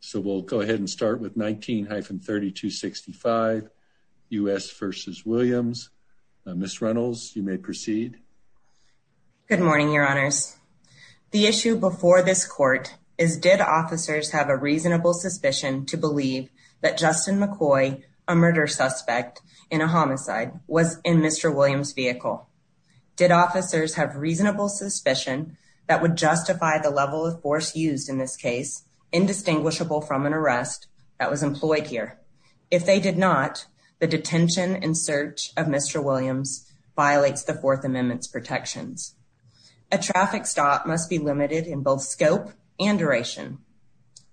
So we'll go ahead and start with 19-3265 U.S. v. Williams. Ms. Reynolds, you may proceed. Good morning, your honors. The issue before this court is did officers have a reasonable suspicion to believe that Justin McCoy, a murder suspect in a homicide, was in Mr. Williams' vehicle? Did officers have reasonable suspicion that would justify the level of force used in this case, indistinguishable from an arrest that was employed here? If they did not, the detention and search of Mr. Williams violates the Fourth Amendment's protections. A traffic stop must be limited in both scope and duration.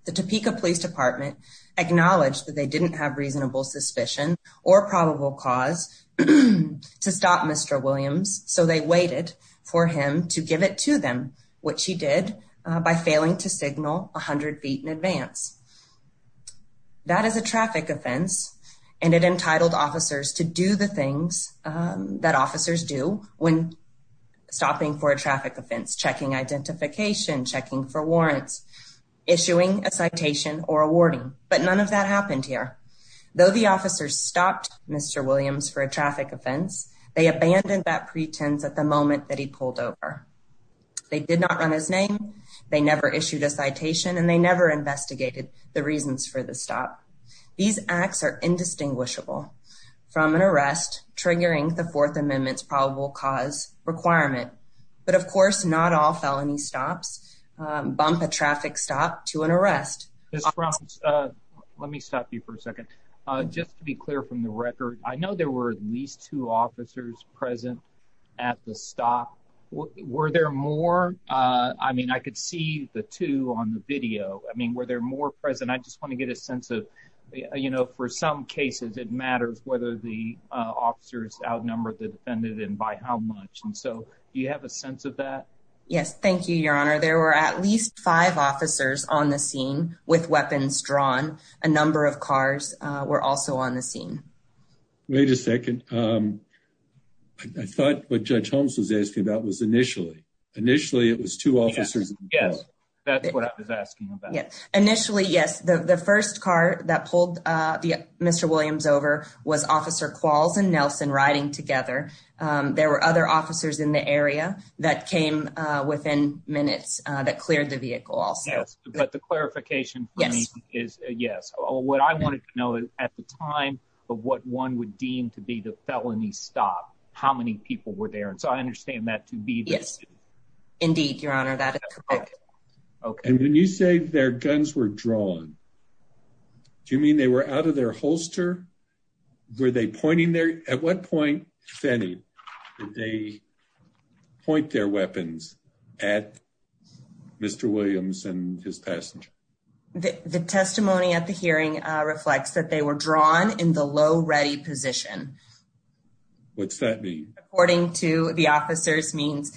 The Topeka Police Department acknowledged that they didn't have reasonable suspicion or probable cause to stop Mr. Williams, so they waited for him to give it to them, which he did by failing to signal 100 feet in advance. That is a traffic offense, and it entitled officers to do the things that officers do when stopping for a traffic offense. Checking identification, checking for warrants, issuing a citation or a warning. But none of that happened here. Though the officers stopped Mr. Williams for a traffic offense, they abandoned that pretense at the moment that he pulled over. They did not run his name, they never issued a citation, and they never investigated the reasons for the stop. These acts are indistinguishable from an arrest triggering the Fourth Amendment's probable cause requirement. But of course, not all felony stops bump a traffic stop to an arrest. Ms. Frum, let me stop you for a second. Just to be clear from the record, I know there were at least two officers present at the stop. Were there more? I mean, I could see the two on the video. Were there more present? I just want to get a sense of, you know, for some cases it matters whether the officers outnumber the defendant and by how much. Do you have a sense of that? Yes, thank you, Your Honor. There were at least five officers on the scene with weapons drawn. A number of cars were also on the scene. Wait a second. I thought what Judge Holmes was asking about was initially. Initially it was two officers. Yes, that's what I was asking about. Initially, yes. The first car that pulled Mr. Williams over was Officer Qualls and Nelson riding together. There were other officers in the area that came within minutes that cleared the vehicle also. But the clarification for me is yes. What I wanted to know is at the time of what one would deem to be the felony stop, how many people were there? And so I understand that to be this. Indeed, Your Honor, that is correct. And when you say their guns were drawn, do you mean they were out of their holster? Were they pointing their? At what point, if any, did they point their weapons at Mr. Williams and his passenger? The testimony at the hearing reflects that they were drawn in the low ready position. What's that mean? According to the officers means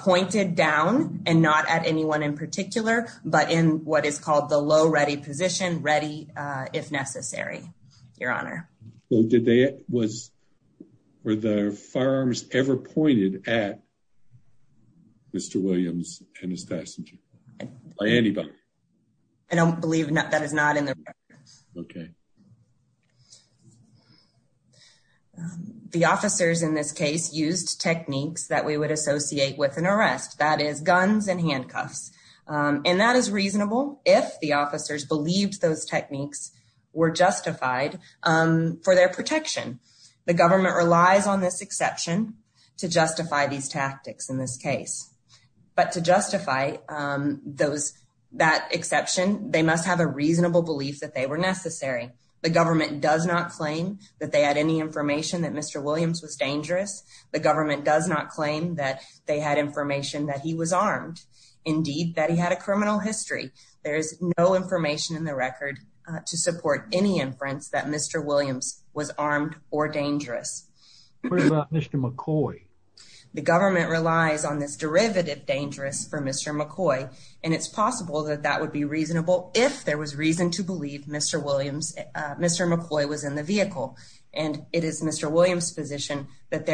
pointed down and not at anyone in particular, but in what is called the low ready position. Ready if necessary, Your Honor. Were their firearms ever pointed at Mr. Williams and his passenger? By anybody? I don't believe that is not in the record. Okay. The officers in this case used techniques that we would associate with an arrest. That is guns and handcuffs. And that is reasonable if the officers believed those techniques were justified for their protection. The government relies on this exception to justify these tactics in this case. But to justify that exception, they must have a reasonable belief that they were necessary. The government does not claim that they had any information that Mr. Williams was dangerous. The government does not claim that they had information that he was armed. Indeed, that he had a criminal history. There is no information in the record to support any inference that Mr. Williams was armed or dangerous. What about Mr. McCoy? The government relies on this derivative dangerous for Mr. McCoy. And it's possible that that would be reasonable if there was reason to believe Mr. McCoy was in the vehicle. And it is Mr. Williams' position that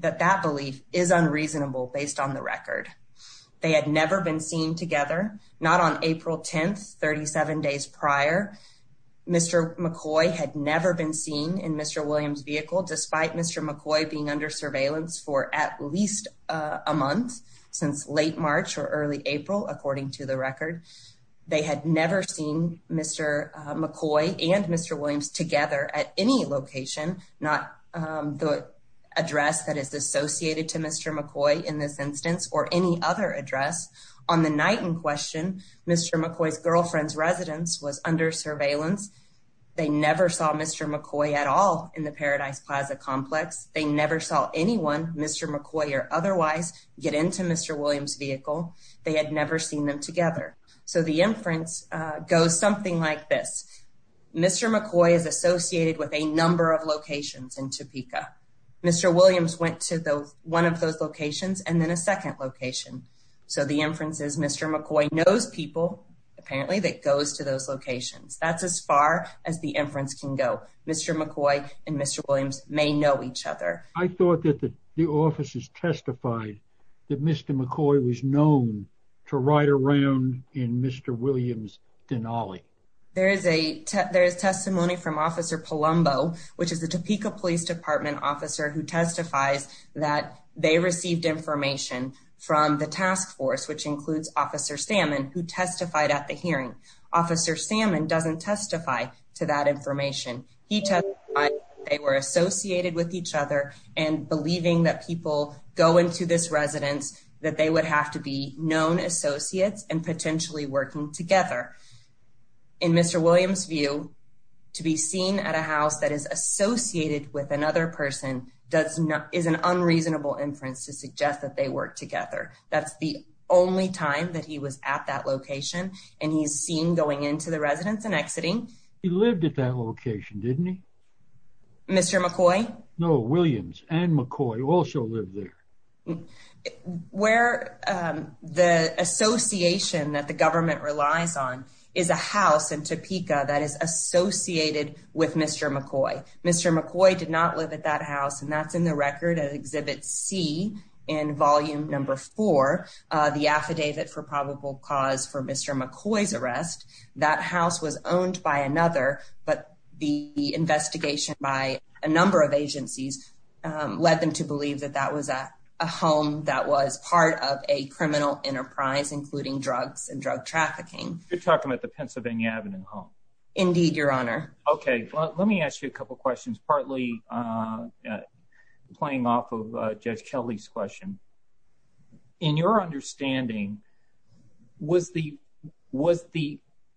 that belief is unreasonable based on the record. They had never been seen together. Not on April 10th, 37 days prior. Mr. McCoy had never been seen in Mr. Williams' vehicle despite Mr. McCoy being under surveillance for at least a month. Since late March or early April, according to the record. They had never seen Mr. McCoy and Mr. Williams together at any location. Not the address that is associated to Mr. McCoy in this instance or any other address. On the night in question, Mr. McCoy's girlfriend's residence was under surveillance. They never saw Mr. McCoy at all in the Paradise Plaza complex. They never saw anyone, Mr. McCoy or otherwise, get into Mr. Williams' vehicle. They had never seen them together. So the inference goes something like this. Mr. McCoy is associated with a number of locations in Topeka. Mr. Williams went to one of those locations and then a second location. So the inference is Mr. McCoy knows people, apparently, that goes to those locations. That's as far as the inference can go. Mr. McCoy and Mr. Williams may know each other. I thought that the officers testified that Mr. McCoy was known to ride around in Mr. Williams' Denali. There is testimony from Officer Palumbo, which is the Topeka Police Department officer, who testifies that they received information from the task force, which includes Officer Salmon, who testified at the hearing. Officer Salmon doesn't testify to that information. He testified they were associated with each other and believing that people go into this residence, that they would have to be known associates and potentially working together. In Mr. Williams' view, to be seen at a house that is associated with another person is an unreasonable inference to suggest that they work together. That's the only time that he was at that location and he's seen going into the residence and exiting. He lived at that location, didn't he? Mr. McCoy? No, Williams and McCoy also lived there. Where the association that the government relies on is a house in Topeka that is associated with Mr. McCoy. Mr. McCoy did not live at that house, and that's in the record at Exhibit C in Volume No. 4, the affidavit for probable cause for Mr. McCoy's arrest. That house was owned by another, but the investigation by a number of agencies led them to believe that that was a home that was part of a criminal enterprise, including drugs and drug trafficking. You're talking about the Pennsylvania Avenue home? Indeed, Your Honor. Okay, let me ask you a couple questions, partly playing off of Judge Kelly's question. In your understanding, was the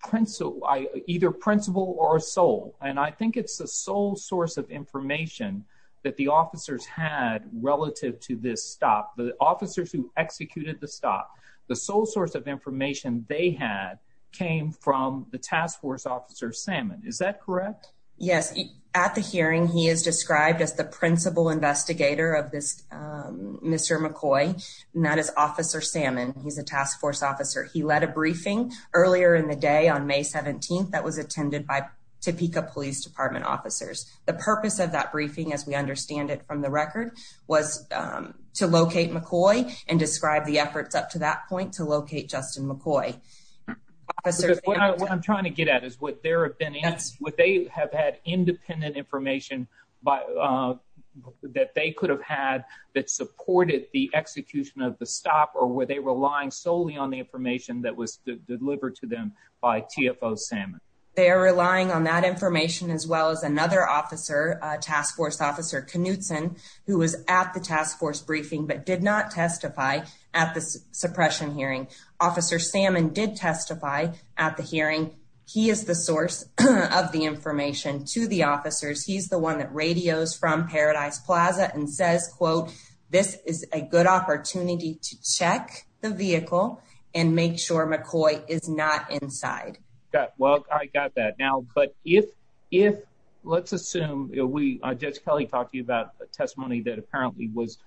principal, either principal or sole, and I think it's the sole source of information that the officers had relative to this stop, the officers who executed the stop, the sole source of information they had came from the task force officer, Salmon. Is that correct? Yes. At the hearing, he is described as the principal investigator of this Mr. McCoy, not as Officer Salmon. He's a task force officer. He led a briefing earlier in the day on May 17th that was attended by Topeka Police Department officers. The purpose of that briefing, as we understand it from the record, was to locate McCoy and describe the efforts up to that point to locate Justin McCoy. What I'm trying to get at is would they have had independent information that they could have had that supported the execution of the stop, or were they relying solely on the information that was delivered to them by TFO Salmon? They are relying on that information, as well as another officer, Task Force Officer Knutson, who was at the task force briefing but did not testify at the suppression hearing. Officer Salmon did testify at the hearing. He is the source of the information to the officers. He's the one that radios from Paradise Plaza and says, quote, this is a good opportunity to check the vehicle and make sure McCoy is not inside. Well, I got that now. But if if let's assume we judge Kelly talking about a testimony that apparently was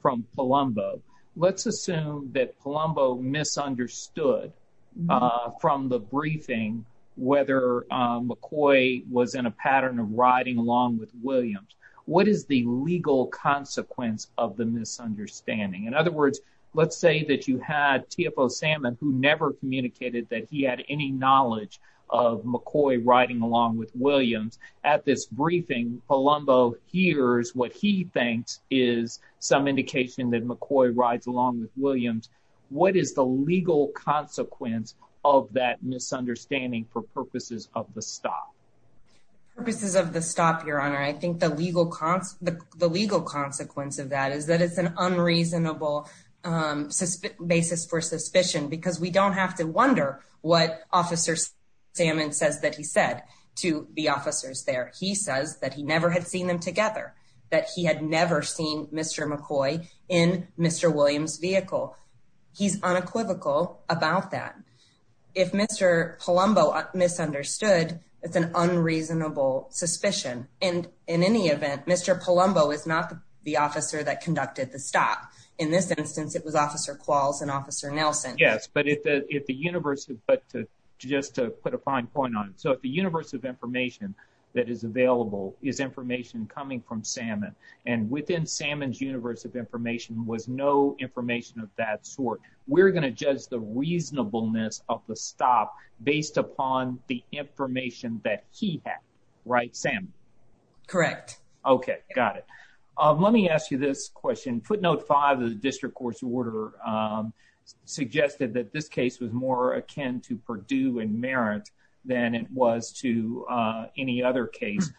from Palumbo, let's assume that Palumbo misunderstood from the briefing whether McCoy was in a pattern of riding along with Williams. What is the legal consequence of the misunderstanding? In other words, let's say that you had TFO Salmon who never communicated that he had any knowledge of McCoy riding along with Williams. At this briefing, Palumbo hears what he thinks is some indication that McCoy rides along with Williams. What is the legal consequence of that misunderstanding for purposes of the stop? Purposes of the stop, your honor, I think the legal cost, the legal consequence of that is that it's an unreasonable basis for suspicion, because we don't have to wonder what officers salmon says that he said to the officers there. He says that he never had seen them together, that he had never seen Mr. McCoy in Mr. Williams vehicle. He's unequivocal about that. If Mr. Palumbo misunderstood, it's an unreasonable suspicion. And in any event, Mr. Palumbo is not the officer that conducted the stop. In this instance, it was Officer Qualls and Officer Nelson. Yes, but if the if the universe, but just to put a fine point on it. So if the universe of information that is available is information coming from salmon and within salmon's universe of information was no information of that. So we're going to judge the reasonableness of the stop based upon the information that he had. Right, Sam. Correct. OK, got it. Let me ask you this question. Footnote five of the district court's order suggested that this case was more akin to Purdue and Merritt than it was to any other case.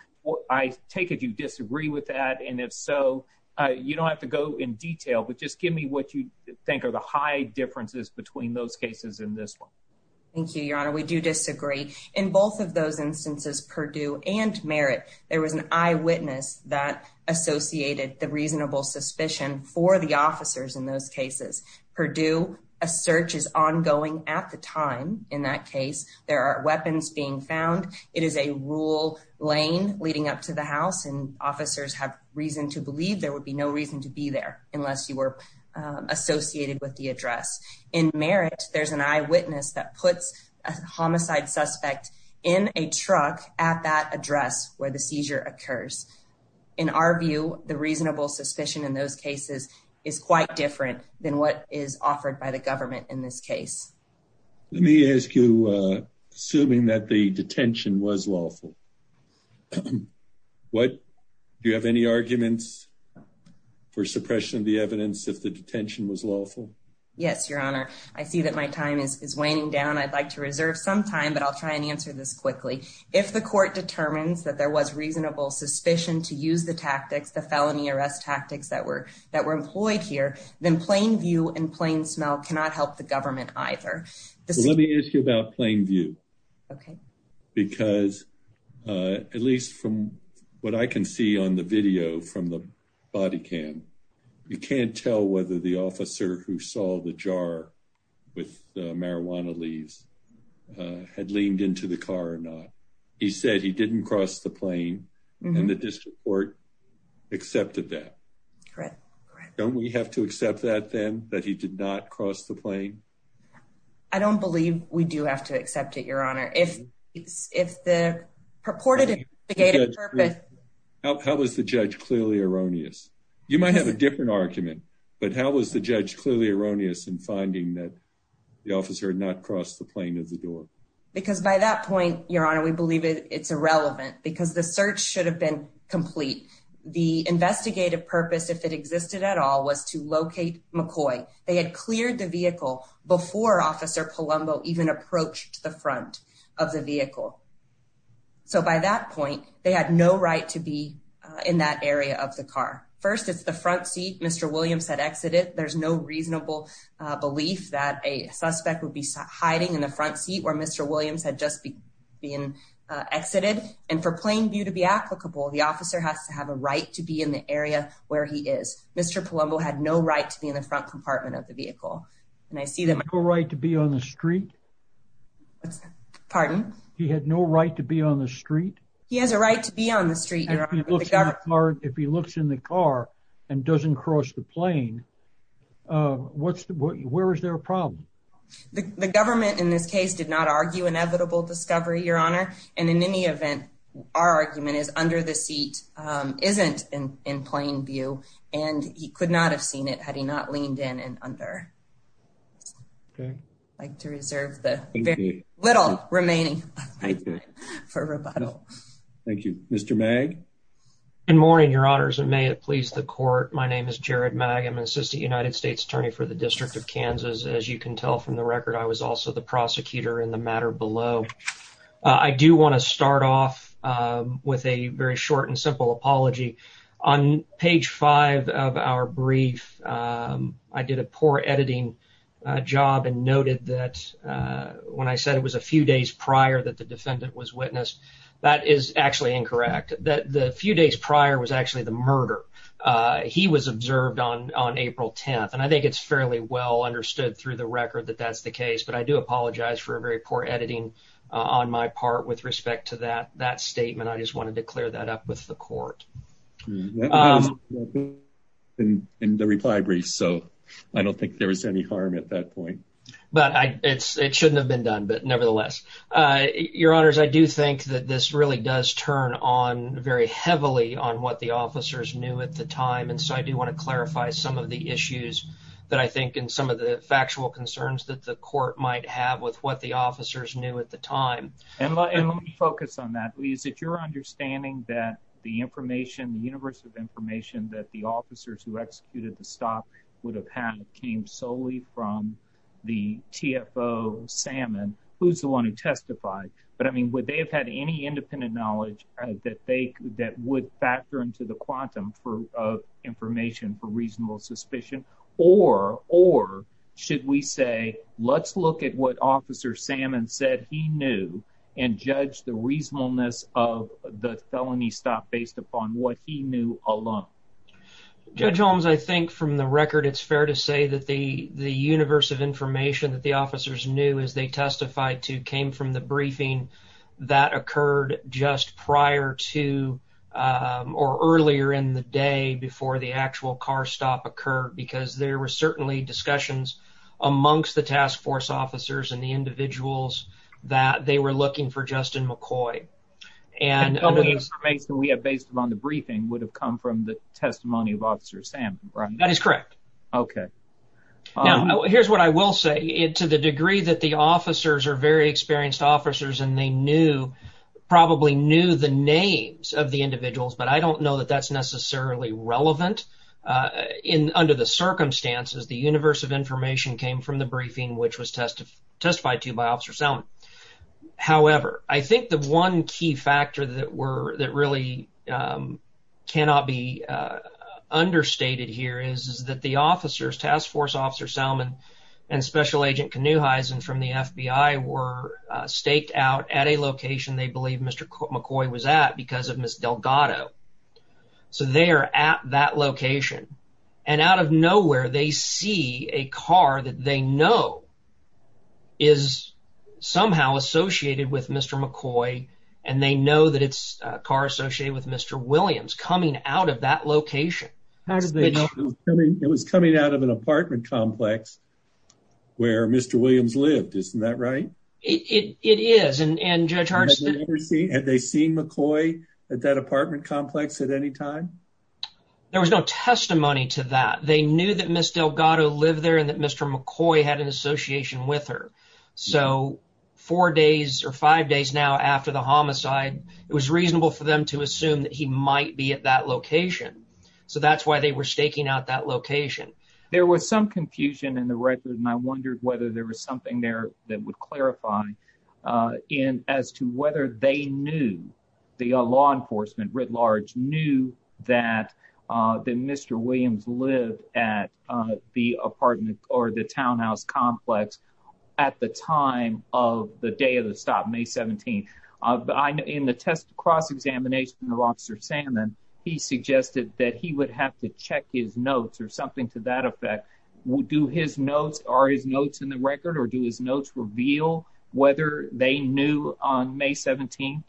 I take it you disagree with that. And if so, you don't have to go in detail, but just give me what you think are the high differences between those cases in this one. Thank you, Your Honor. We do disagree in both of those instances, Purdue and Merritt. There was an eyewitness that associated the reasonable suspicion for the officers in those cases. Purdue, a search is ongoing at the time. In that case, there are weapons being found. It is a rural lane leading up to the house and officers have reason to believe there would be no reason to be there unless you were associated with the address. In Merritt, there's an eyewitness that puts a homicide suspect in a truck at that address where the seizure occurs. In our view, the reasonable suspicion in those cases is quite different than what is offered by the government in this case. Let me ask you, assuming that the detention was lawful, what do you have any arguments for suppression of the evidence if the detention was lawful? Yes, Your Honor. I see that my time is waning down. I'd like to reserve some time, but I'll try and answer this quickly. If the court determines that there was reasonable suspicion to use the tactics, the felony arrest tactics that were employed here, then plain view and plain smell cannot help the government either. Let me ask you about plain view. Okay. Because, at least from what I can see on the video from the body cam, you can't tell whether the officer who saw the jar with marijuana leaves had leaned into the car or not. He said he didn't cross the plane and the district court accepted that. Correct. Don't we have to accept that, then, that he did not cross the plane? I don't believe we do have to accept it, Your Honor. If the purported purpose… How is the judge clearly erroneous? You might have a different argument, but how is the judge clearly erroneous in finding that the officer had not crossed the plane at the door? Because by that point, Your Honor, we believe it's irrelevant because the search should have been complete. The investigative purpose, if it existed at all, was to locate McCoy. They had cleared the vehicle before Officer Palumbo even approached the front of the vehicle. So, by that point, they had no right to be in that area of the car. First, it's the front seat. Mr. Williams had exited. There's no reasonable belief that a suspect would be hiding in the front seat where Mr. Williams had just been exited. And for plain view to be applicable, the officer has to have a right to be in the area where he is. Mr. Palumbo had no right to be in the front compartment of the vehicle. He had no right to be on the street? Pardon? He had no right to be on the street? He has a right to be on the street, Your Honor. If he looks in the car and doesn't cross the plane, where is there a problem? The government, in this case, did not argue inevitable discovery, Your Honor. And in any event, our argument is under the seat isn't in plain view. And he could not have seen it had he not leaned in and under. I'd like to reserve the little remaining time for rebuttal. Thank you. Mr. Magg? Good morning, Your Honors, and may it please the court. My name is Jared Magg. I'm an assistant United States attorney for the District of Kansas. As you can tell from the record, I was also the prosecutor in the matter below. I do want to start off with a very short and simple apology. On page five of our brief, I did a poor editing job and noted that when I said it was a few days prior that the defendant was witnessed, that is actually incorrect. The few days prior was actually the murder. He was observed on April 10th, and I think it's fairly well understood through the record that that's the case. But I do apologize for a very poor editing on my part with respect to that statement. I just wanted to clear that up with the court. That was in the reply brief, so I don't think there was any harm at that point. But it shouldn't have been done, but nevertheless. Your Honors, I do think that this really does turn on very heavily on what the officers knew at the time, and so I do want to clarify some of the issues that I think and some of the factual concerns that the court might have with what the officers knew at the time. And let me focus on that. Is it your understanding that the information, the universe of information that the officers who executed the stop would have had came solely from the TFO Salmon? Who's the one who testified? But, I mean, would they have had any independent knowledge that would factor into the quantum of information for reasonable suspicion? Or should we say, let's look at what Officer Salmon said he knew and judge the reasonableness of the felony stop based upon what he knew alone? Judge Holmes, I think from the record, it's fair to say that the universe of information that the officers knew as they testified to came from the briefing that occurred just prior to or earlier in the day before the actual car stop occurred. Because there were certainly discussions amongst the task force officers and the individuals that they were looking for Justin McCoy. And some of the information we have based upon the briefing would have come from the testimony of Officer Salmon, right? That is correct. Okay. Now, here's what I will say. To the degree that the officers are very experienced officers and they knew, probably knew the names of the individuals, but I don't know that that's necessarily relevant. Under the circumstances, the universe of information came from the briefing which was testified to by Officer Salmon. However, I think the one key factor that really cannot be understated here is that the officers, Task Force Officer Salmon and Special Agent Knuheisen from the FBI were staked out at a location they believe Mr. McCoy was at because of Ms. Delgado. So, they are at that location. And out of nowhere, they see a car that they know is somehow associated with Mr. McCoy and they know that it's a car associated with Mr. Williams coming out of that location. It was coming out of an apartment complex where Mr. Williams lived. Isn't that right? It is. Have they seen McCoy at that apartment complex at any time? There was no testimony to that. They knew that Ms. Delgado lived there and that Mr. McCoy had an association with her. So, four days or five days now after the homicide, it was reasonable for them to assume that he might be at that location. So, that's why they were staking out that location. There was some confusion in the record and I wondered whether there was something there that would clarify as to whether they knew, the law enforcement writ large, knew that Mr. Williams lived at the apartment or the townhouse complex at the time of the day of the stop, May 17th. In the cross-examination of Officer Salmon, he suggested that he would have to check his notes or something to that effect. Do his notes, are his notes in the record or do his notes reveal whether they knew on May 17th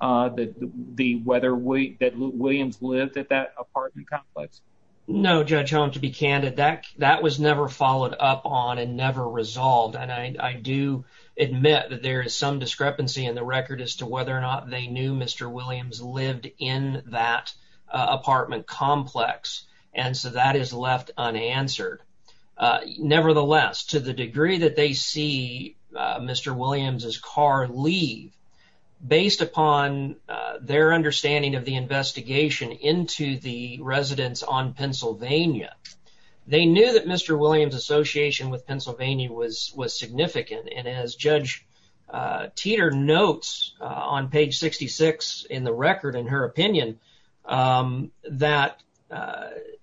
that Williams lived at that apartment complex? No, Judge Holm, to be candid, that was never followed up on and never resolved. And I do admit that there is some discrepancy in the record as to whether or not they knew Mr. Williams lived in that apartment complex. And so, that is left unanswered. Nevertheless, to the degree that they see Mr. Williams' car leave, based upon their understanding of the investigation into the residence on Pennsylvania, they knew that Mr. Williams' association with Pennsylvania was significant. And as Judge Teeter notes on page 66 in the record, in her opinion, that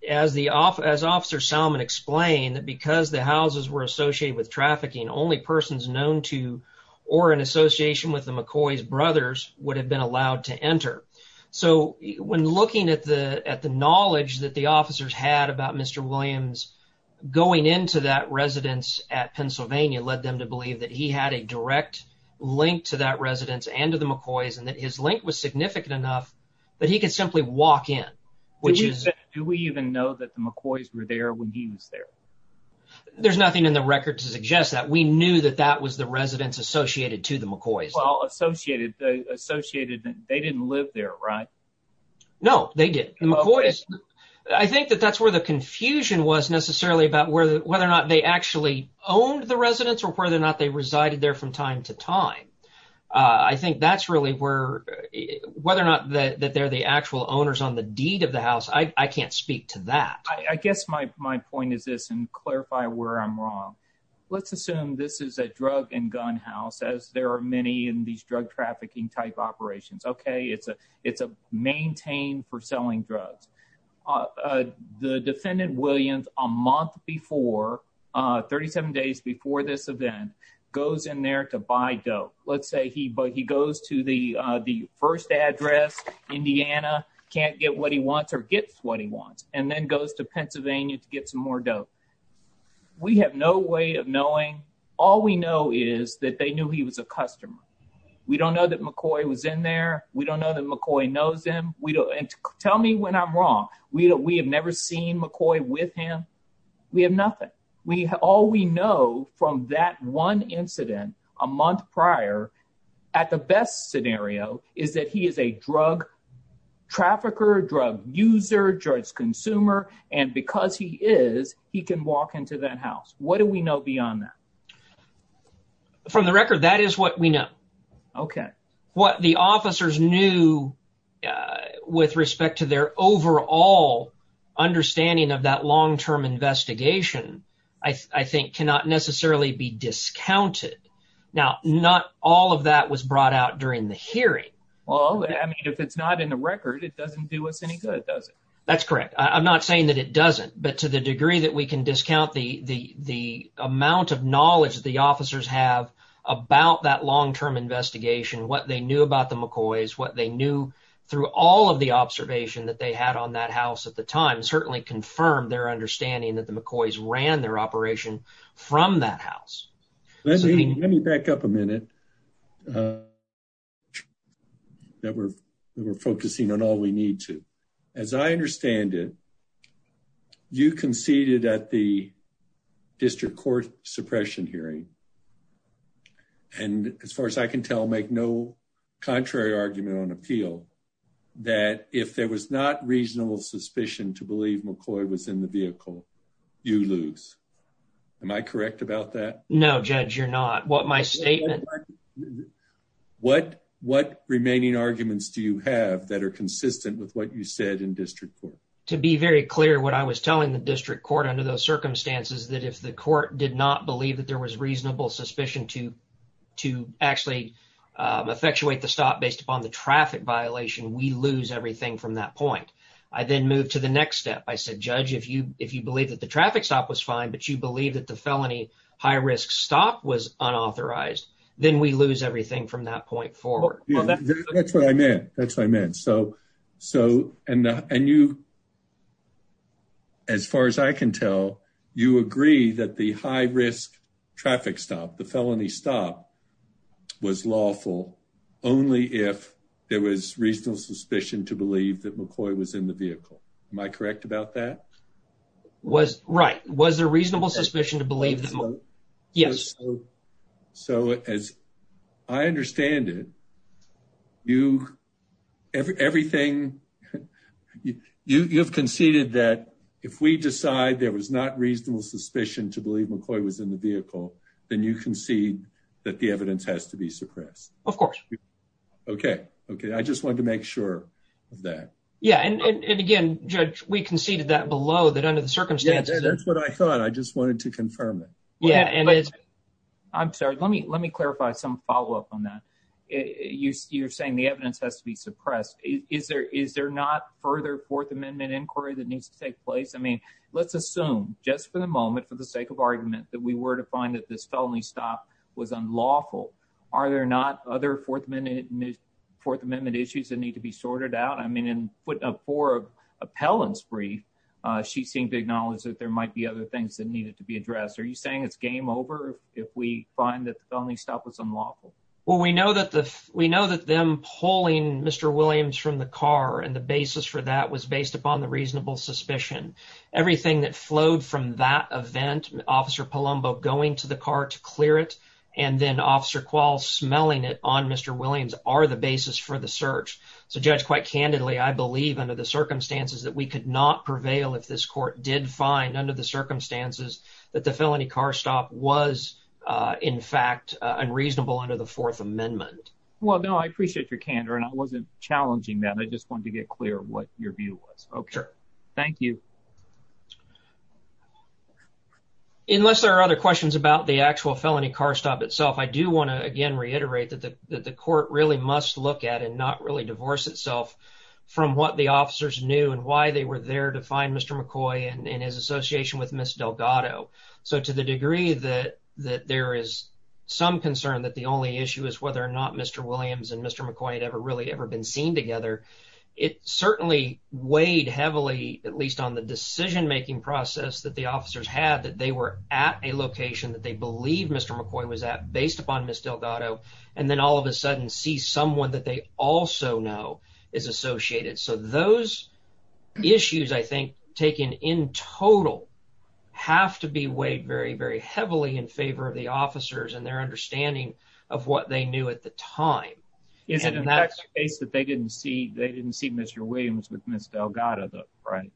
as Officer Salmon explained, that because the houses were associated with trafficking, only persons known to or in association with the McCoys brothers would have been allowed to enter. So, when looking at the knowledge that the officers had about Mr. Williams going into that residence at Pennsylvania, led them to believe that he had a direct link to that residence and to the McCoys and that his link was significant enough that he could simply walk in. Do we even know that the McCoys were there when he was there? There's nothing in the record to suggest that. We knew that that was the residence associated to the McCoys. Well, associated, they didn't live there, right? No, they didn't. I think that that's where the confusion was necessarily about whether or not they actually owned the residence or whether or not they resided there from time to time. I think that's really where, whether or not that they're the actual owners on the deed of the house, I can't speak to that. I guess my point is this, and clarify where I'm wrong. Let's assume this is a drug and gun house, as there are many in these drug trafficking type operations. Okay, it's maintained for selling drugs. The defendant, Williams, a month before, 37 days before this event, goes in there to buy dope. Let's say he goes to the first address, Indiana, can't get what he wants or gets what he wants, and then goes to Pennsylvania to get some more dope. We have no way of knowing. All we know is that they knew he was a customer. We don't know that McCoy was in there. We don't know that McCoy knows him. Tell me when I'm wrong. We have never seen McCoy with him. We have nothing. All we know from that one incident a month prior, at the best scenario, is that he is a drug trafficker, drug user, drug consumer, and because he is, he can walk into that house. What do we know beyond that? From the record, that is what we know. Okay. What the officers knew with respect to their overall understanding of that long-term investigation, I think, cannot necessarily be discounted. Now, not all of that was brought out during the hearing. Well, I mean, if it's not in the record, it doesn't do us any good, does it? That's correct. I'm not saying that it doesn't, but to the degree that we can discount the amount of knowledge the officers have about that long-term investigation, what they knew about the McCoys, what they knew through all of the observation that they had on that house at the time, certainly confirmed their understanding that the McCoys ran their operation from that house. Let me back up a minute. We're focusing on all we need to. As I understand it, you conceded at the district court suppression hearing, and as far as I can tell, make no contrary argument on appeal, that if there was not reasonable suspicion to believe McCoy was in the vehicle, you lose. Am I correct about that? No, Judge, you're not. What my statement... What remaining arguments do you have that are consistent with what you said in district court? To be very clear, what I was telling the district court under those circumstances, that if the court did not believe that there was reasonable suspicion to actually effectuate the stop based upon the traffic violation, we lose everything from that point. I then moved to the next step. I said, Judge, if you believe that the traffic stop was fine, but you believe that the felony high-risk stop was unauthorized, then we lose everything from that point forward. That's what I meant. That's what I meant. And you, as far as I can tell, you agree that the high-risk traffic stop, the felony stop, was lawful only if there was reasonable suspicion to believe that McCoy was in the vehicle. Am I correct about that? Right. Was there reasonable suspicion to believe... Yes. So, as I understand it, you... Everything... You've conceded that if we decide there was not reasonable suspicion to believe McCoy was in the vehicle, then you concede that the evidence has to be suppressed. Of course. Okay. Okay. I just wanted to make sure of that. Yeah, and again, Judge, we conceded that below, that under the circumstances... Yeah, that's what I thought. I just wanted to confirm it. Yeah. I'm sorry. Let me clarify some follow-up on that. You're saying the evidence has to be suppressed. Is there not further Fourth Amendment inquiry that needs to take place? I mean, let's assume, just for the moment, for the sake of argument, that we were to find that this felony stop was unlawful. Are there not other Fourth Amendment issues that need to be sorted out? I mean, for appellant's brief, she seemed to acknowledge that there might be other things that needed to be addressed. Are you saying it's game over if we find that the felony stop was unlawful? Well, we know that them pulling Mr. Williams from the car and the basis for that was based upon the reasonable suspicion. Everything that flowed from that event, Officer Palumbo going to the car to clear it, and then Officer Quall smelling it on Mr. Williams are the basis for the search. So, Judge, quite candidly, I believe under the circumstances that we could not prevail if this court did find under the circumstances that the felony car stop was, in fact, unreasonable under the Fourth Amendment. Well, no, I appreciate your candor, and I wasn't challenging that. I just wanted to get clear of what your view was. Okay. Thank you. Unless there are other questions about the actual felony car stop itself, I do want to again reiterate that the court really must look at and not really divorce itself from what the officers knew and why they were there to find Mr. McCoy and his association with Miss Delgado. So to the degree that there is some concern that the only issue is whether or not Mr. Williams and Mr. McCoy had ever really ever been seen together, it certainly weighed heavily, at least on the decision-making process that the officers had, that they were at a location that they believe Mr. McCoy was at based upon Miss Delgado, and then all of a sudden see someone that they also know is associated. So those issues, I think, taken in total, have to be weighed very, very heavily in favor of the officers and their understanding of what they knew at the time. Is it in fact the case that they didn't see Mr. Williams with Miss Delgado, right?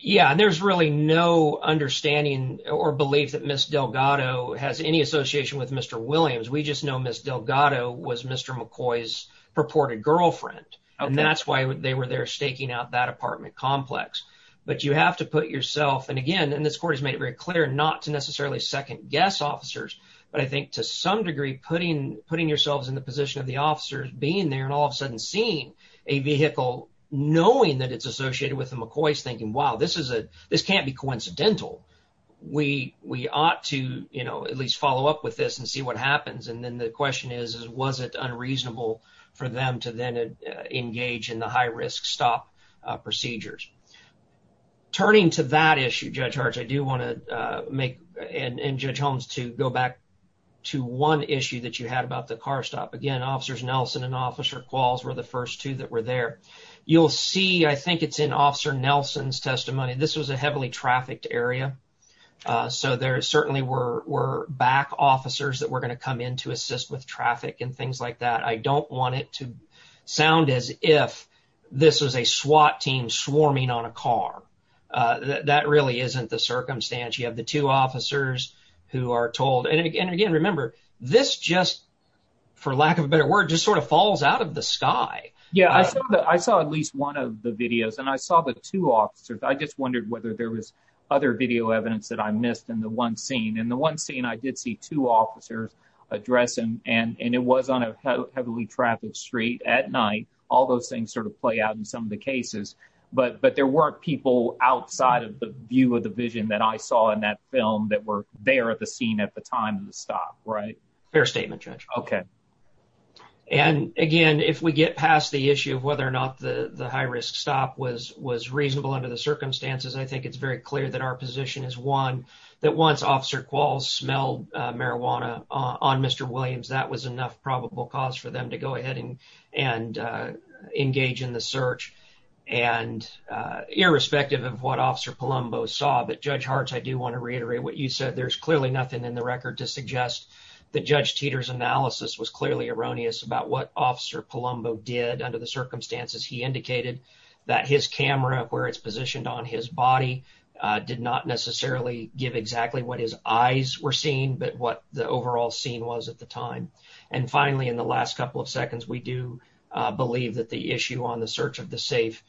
Yeah, and there's really no understanding or belief that Miss Delgado has any association with Mr. Williams. We just know Miss Delgado was Mr. McCoy's purported girlfriend, and that's why they were there staking out that apartment complex. But you have to put yourself, and again, and this court has made it very clear not to necessarily second-guess officers, but I think to some degree putting yourselves in the position of the officers being there and all of a sudden seeing a vehicle, knowing that it's associated with the McCoys, thinking, wow, this can't be coincidental. We ought to at least follow up with this and see what happens, and then the question is, was it unreasonable for them to then engage in the high-risk stop procedures? Turning to that issue, Judge Hartz, I do want to make, and Judge Holmes, to go back to one issue that you had about the car stop. Again, Officers Nelson and Officer Qualls were the first two that were there. You'll see, I think it's in Officer Nelson's testimony, this was a heavily trafficked area, so there certainly were back officers that were going to come in to assist with traffic and things like that. I don't want it to sound as if this was a SWAT team swarming on a car. That really isn't the circumstance. You have the two officers who are told, and again, remember, this just, for lack of a better word, just sort of falls out of the sky. Yeah, I saw at least one of the videos, and I saw the two officers. I just wondered whether there was other video evidence that I missed in the one scene. In the one scene, I did see two officers addressing, and it was on a heavily trafficked street at night. All those things sort of play out in some of the cases, but there were people outside of the view of the vision that I saw in that film that were there at the scene at the time of the stop, right? Fair statement, Judge. Okay. And again, if we get past the issue of whether or not the high-risk stop was reasonable under the circumstances, I think it's very clear that our position is, one, that once Officer Quals smelled marijuana on Mr. Williams, that was enough probable cause for them to go ahead and engage in the search, and irrespective of what Officer Palumbo saw. But, Judge Hartz, I do want to reiterate what you said. There's clearly nothing in the record to suggest that Judge Teeter's analysis was clearly erroneous about what Officer Palumbo did under the circumstances. He indicated that his camera, where it's positioned on his body, did not necessarily give exactly what his eyes were seeing, but what the overall scene was at the time. And finally, in the last couple of seconds, we do believe that the issue on the search of the safe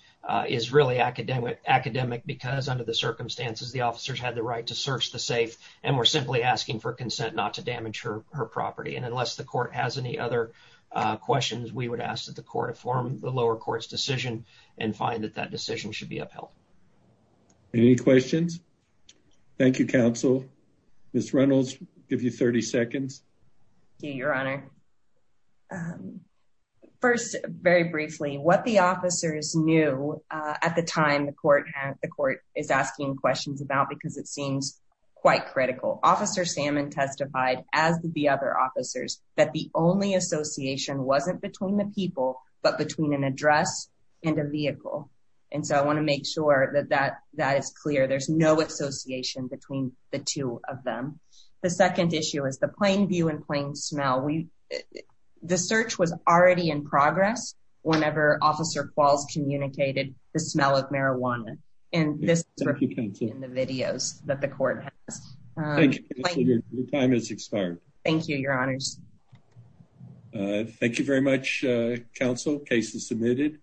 is really academic because, under the circumstances, the officers had the right to search the safe and were simply asking for consent not to damage her property. And unless the court has any other questions, we would ask that the court inform the lower court's decision and find that that decision should be upheld. Any questions? Thank you, Counsel. Ms. Reynolds, I'll give you 30 seconds. Thank you, Your Honor. First, very briefly, what the officers knew at the time the court is asking questions about because it seems quite critical. Officer Salmon testified, as did the other officers, that the only association wasn't between the people, but between an address and a vehicle. And so I want to make sure that that is clear. There's no association between the two of them. The second issue is the plain view and plain smell. The search was already in progress whenever Officer Qualls communicated the smell of marijuana. And this is reflected in the videos that the court has. Thank you, Counsel. Your time has expired. Thank you, Your Honors. Thank you very much, Counsel. Case is submitted.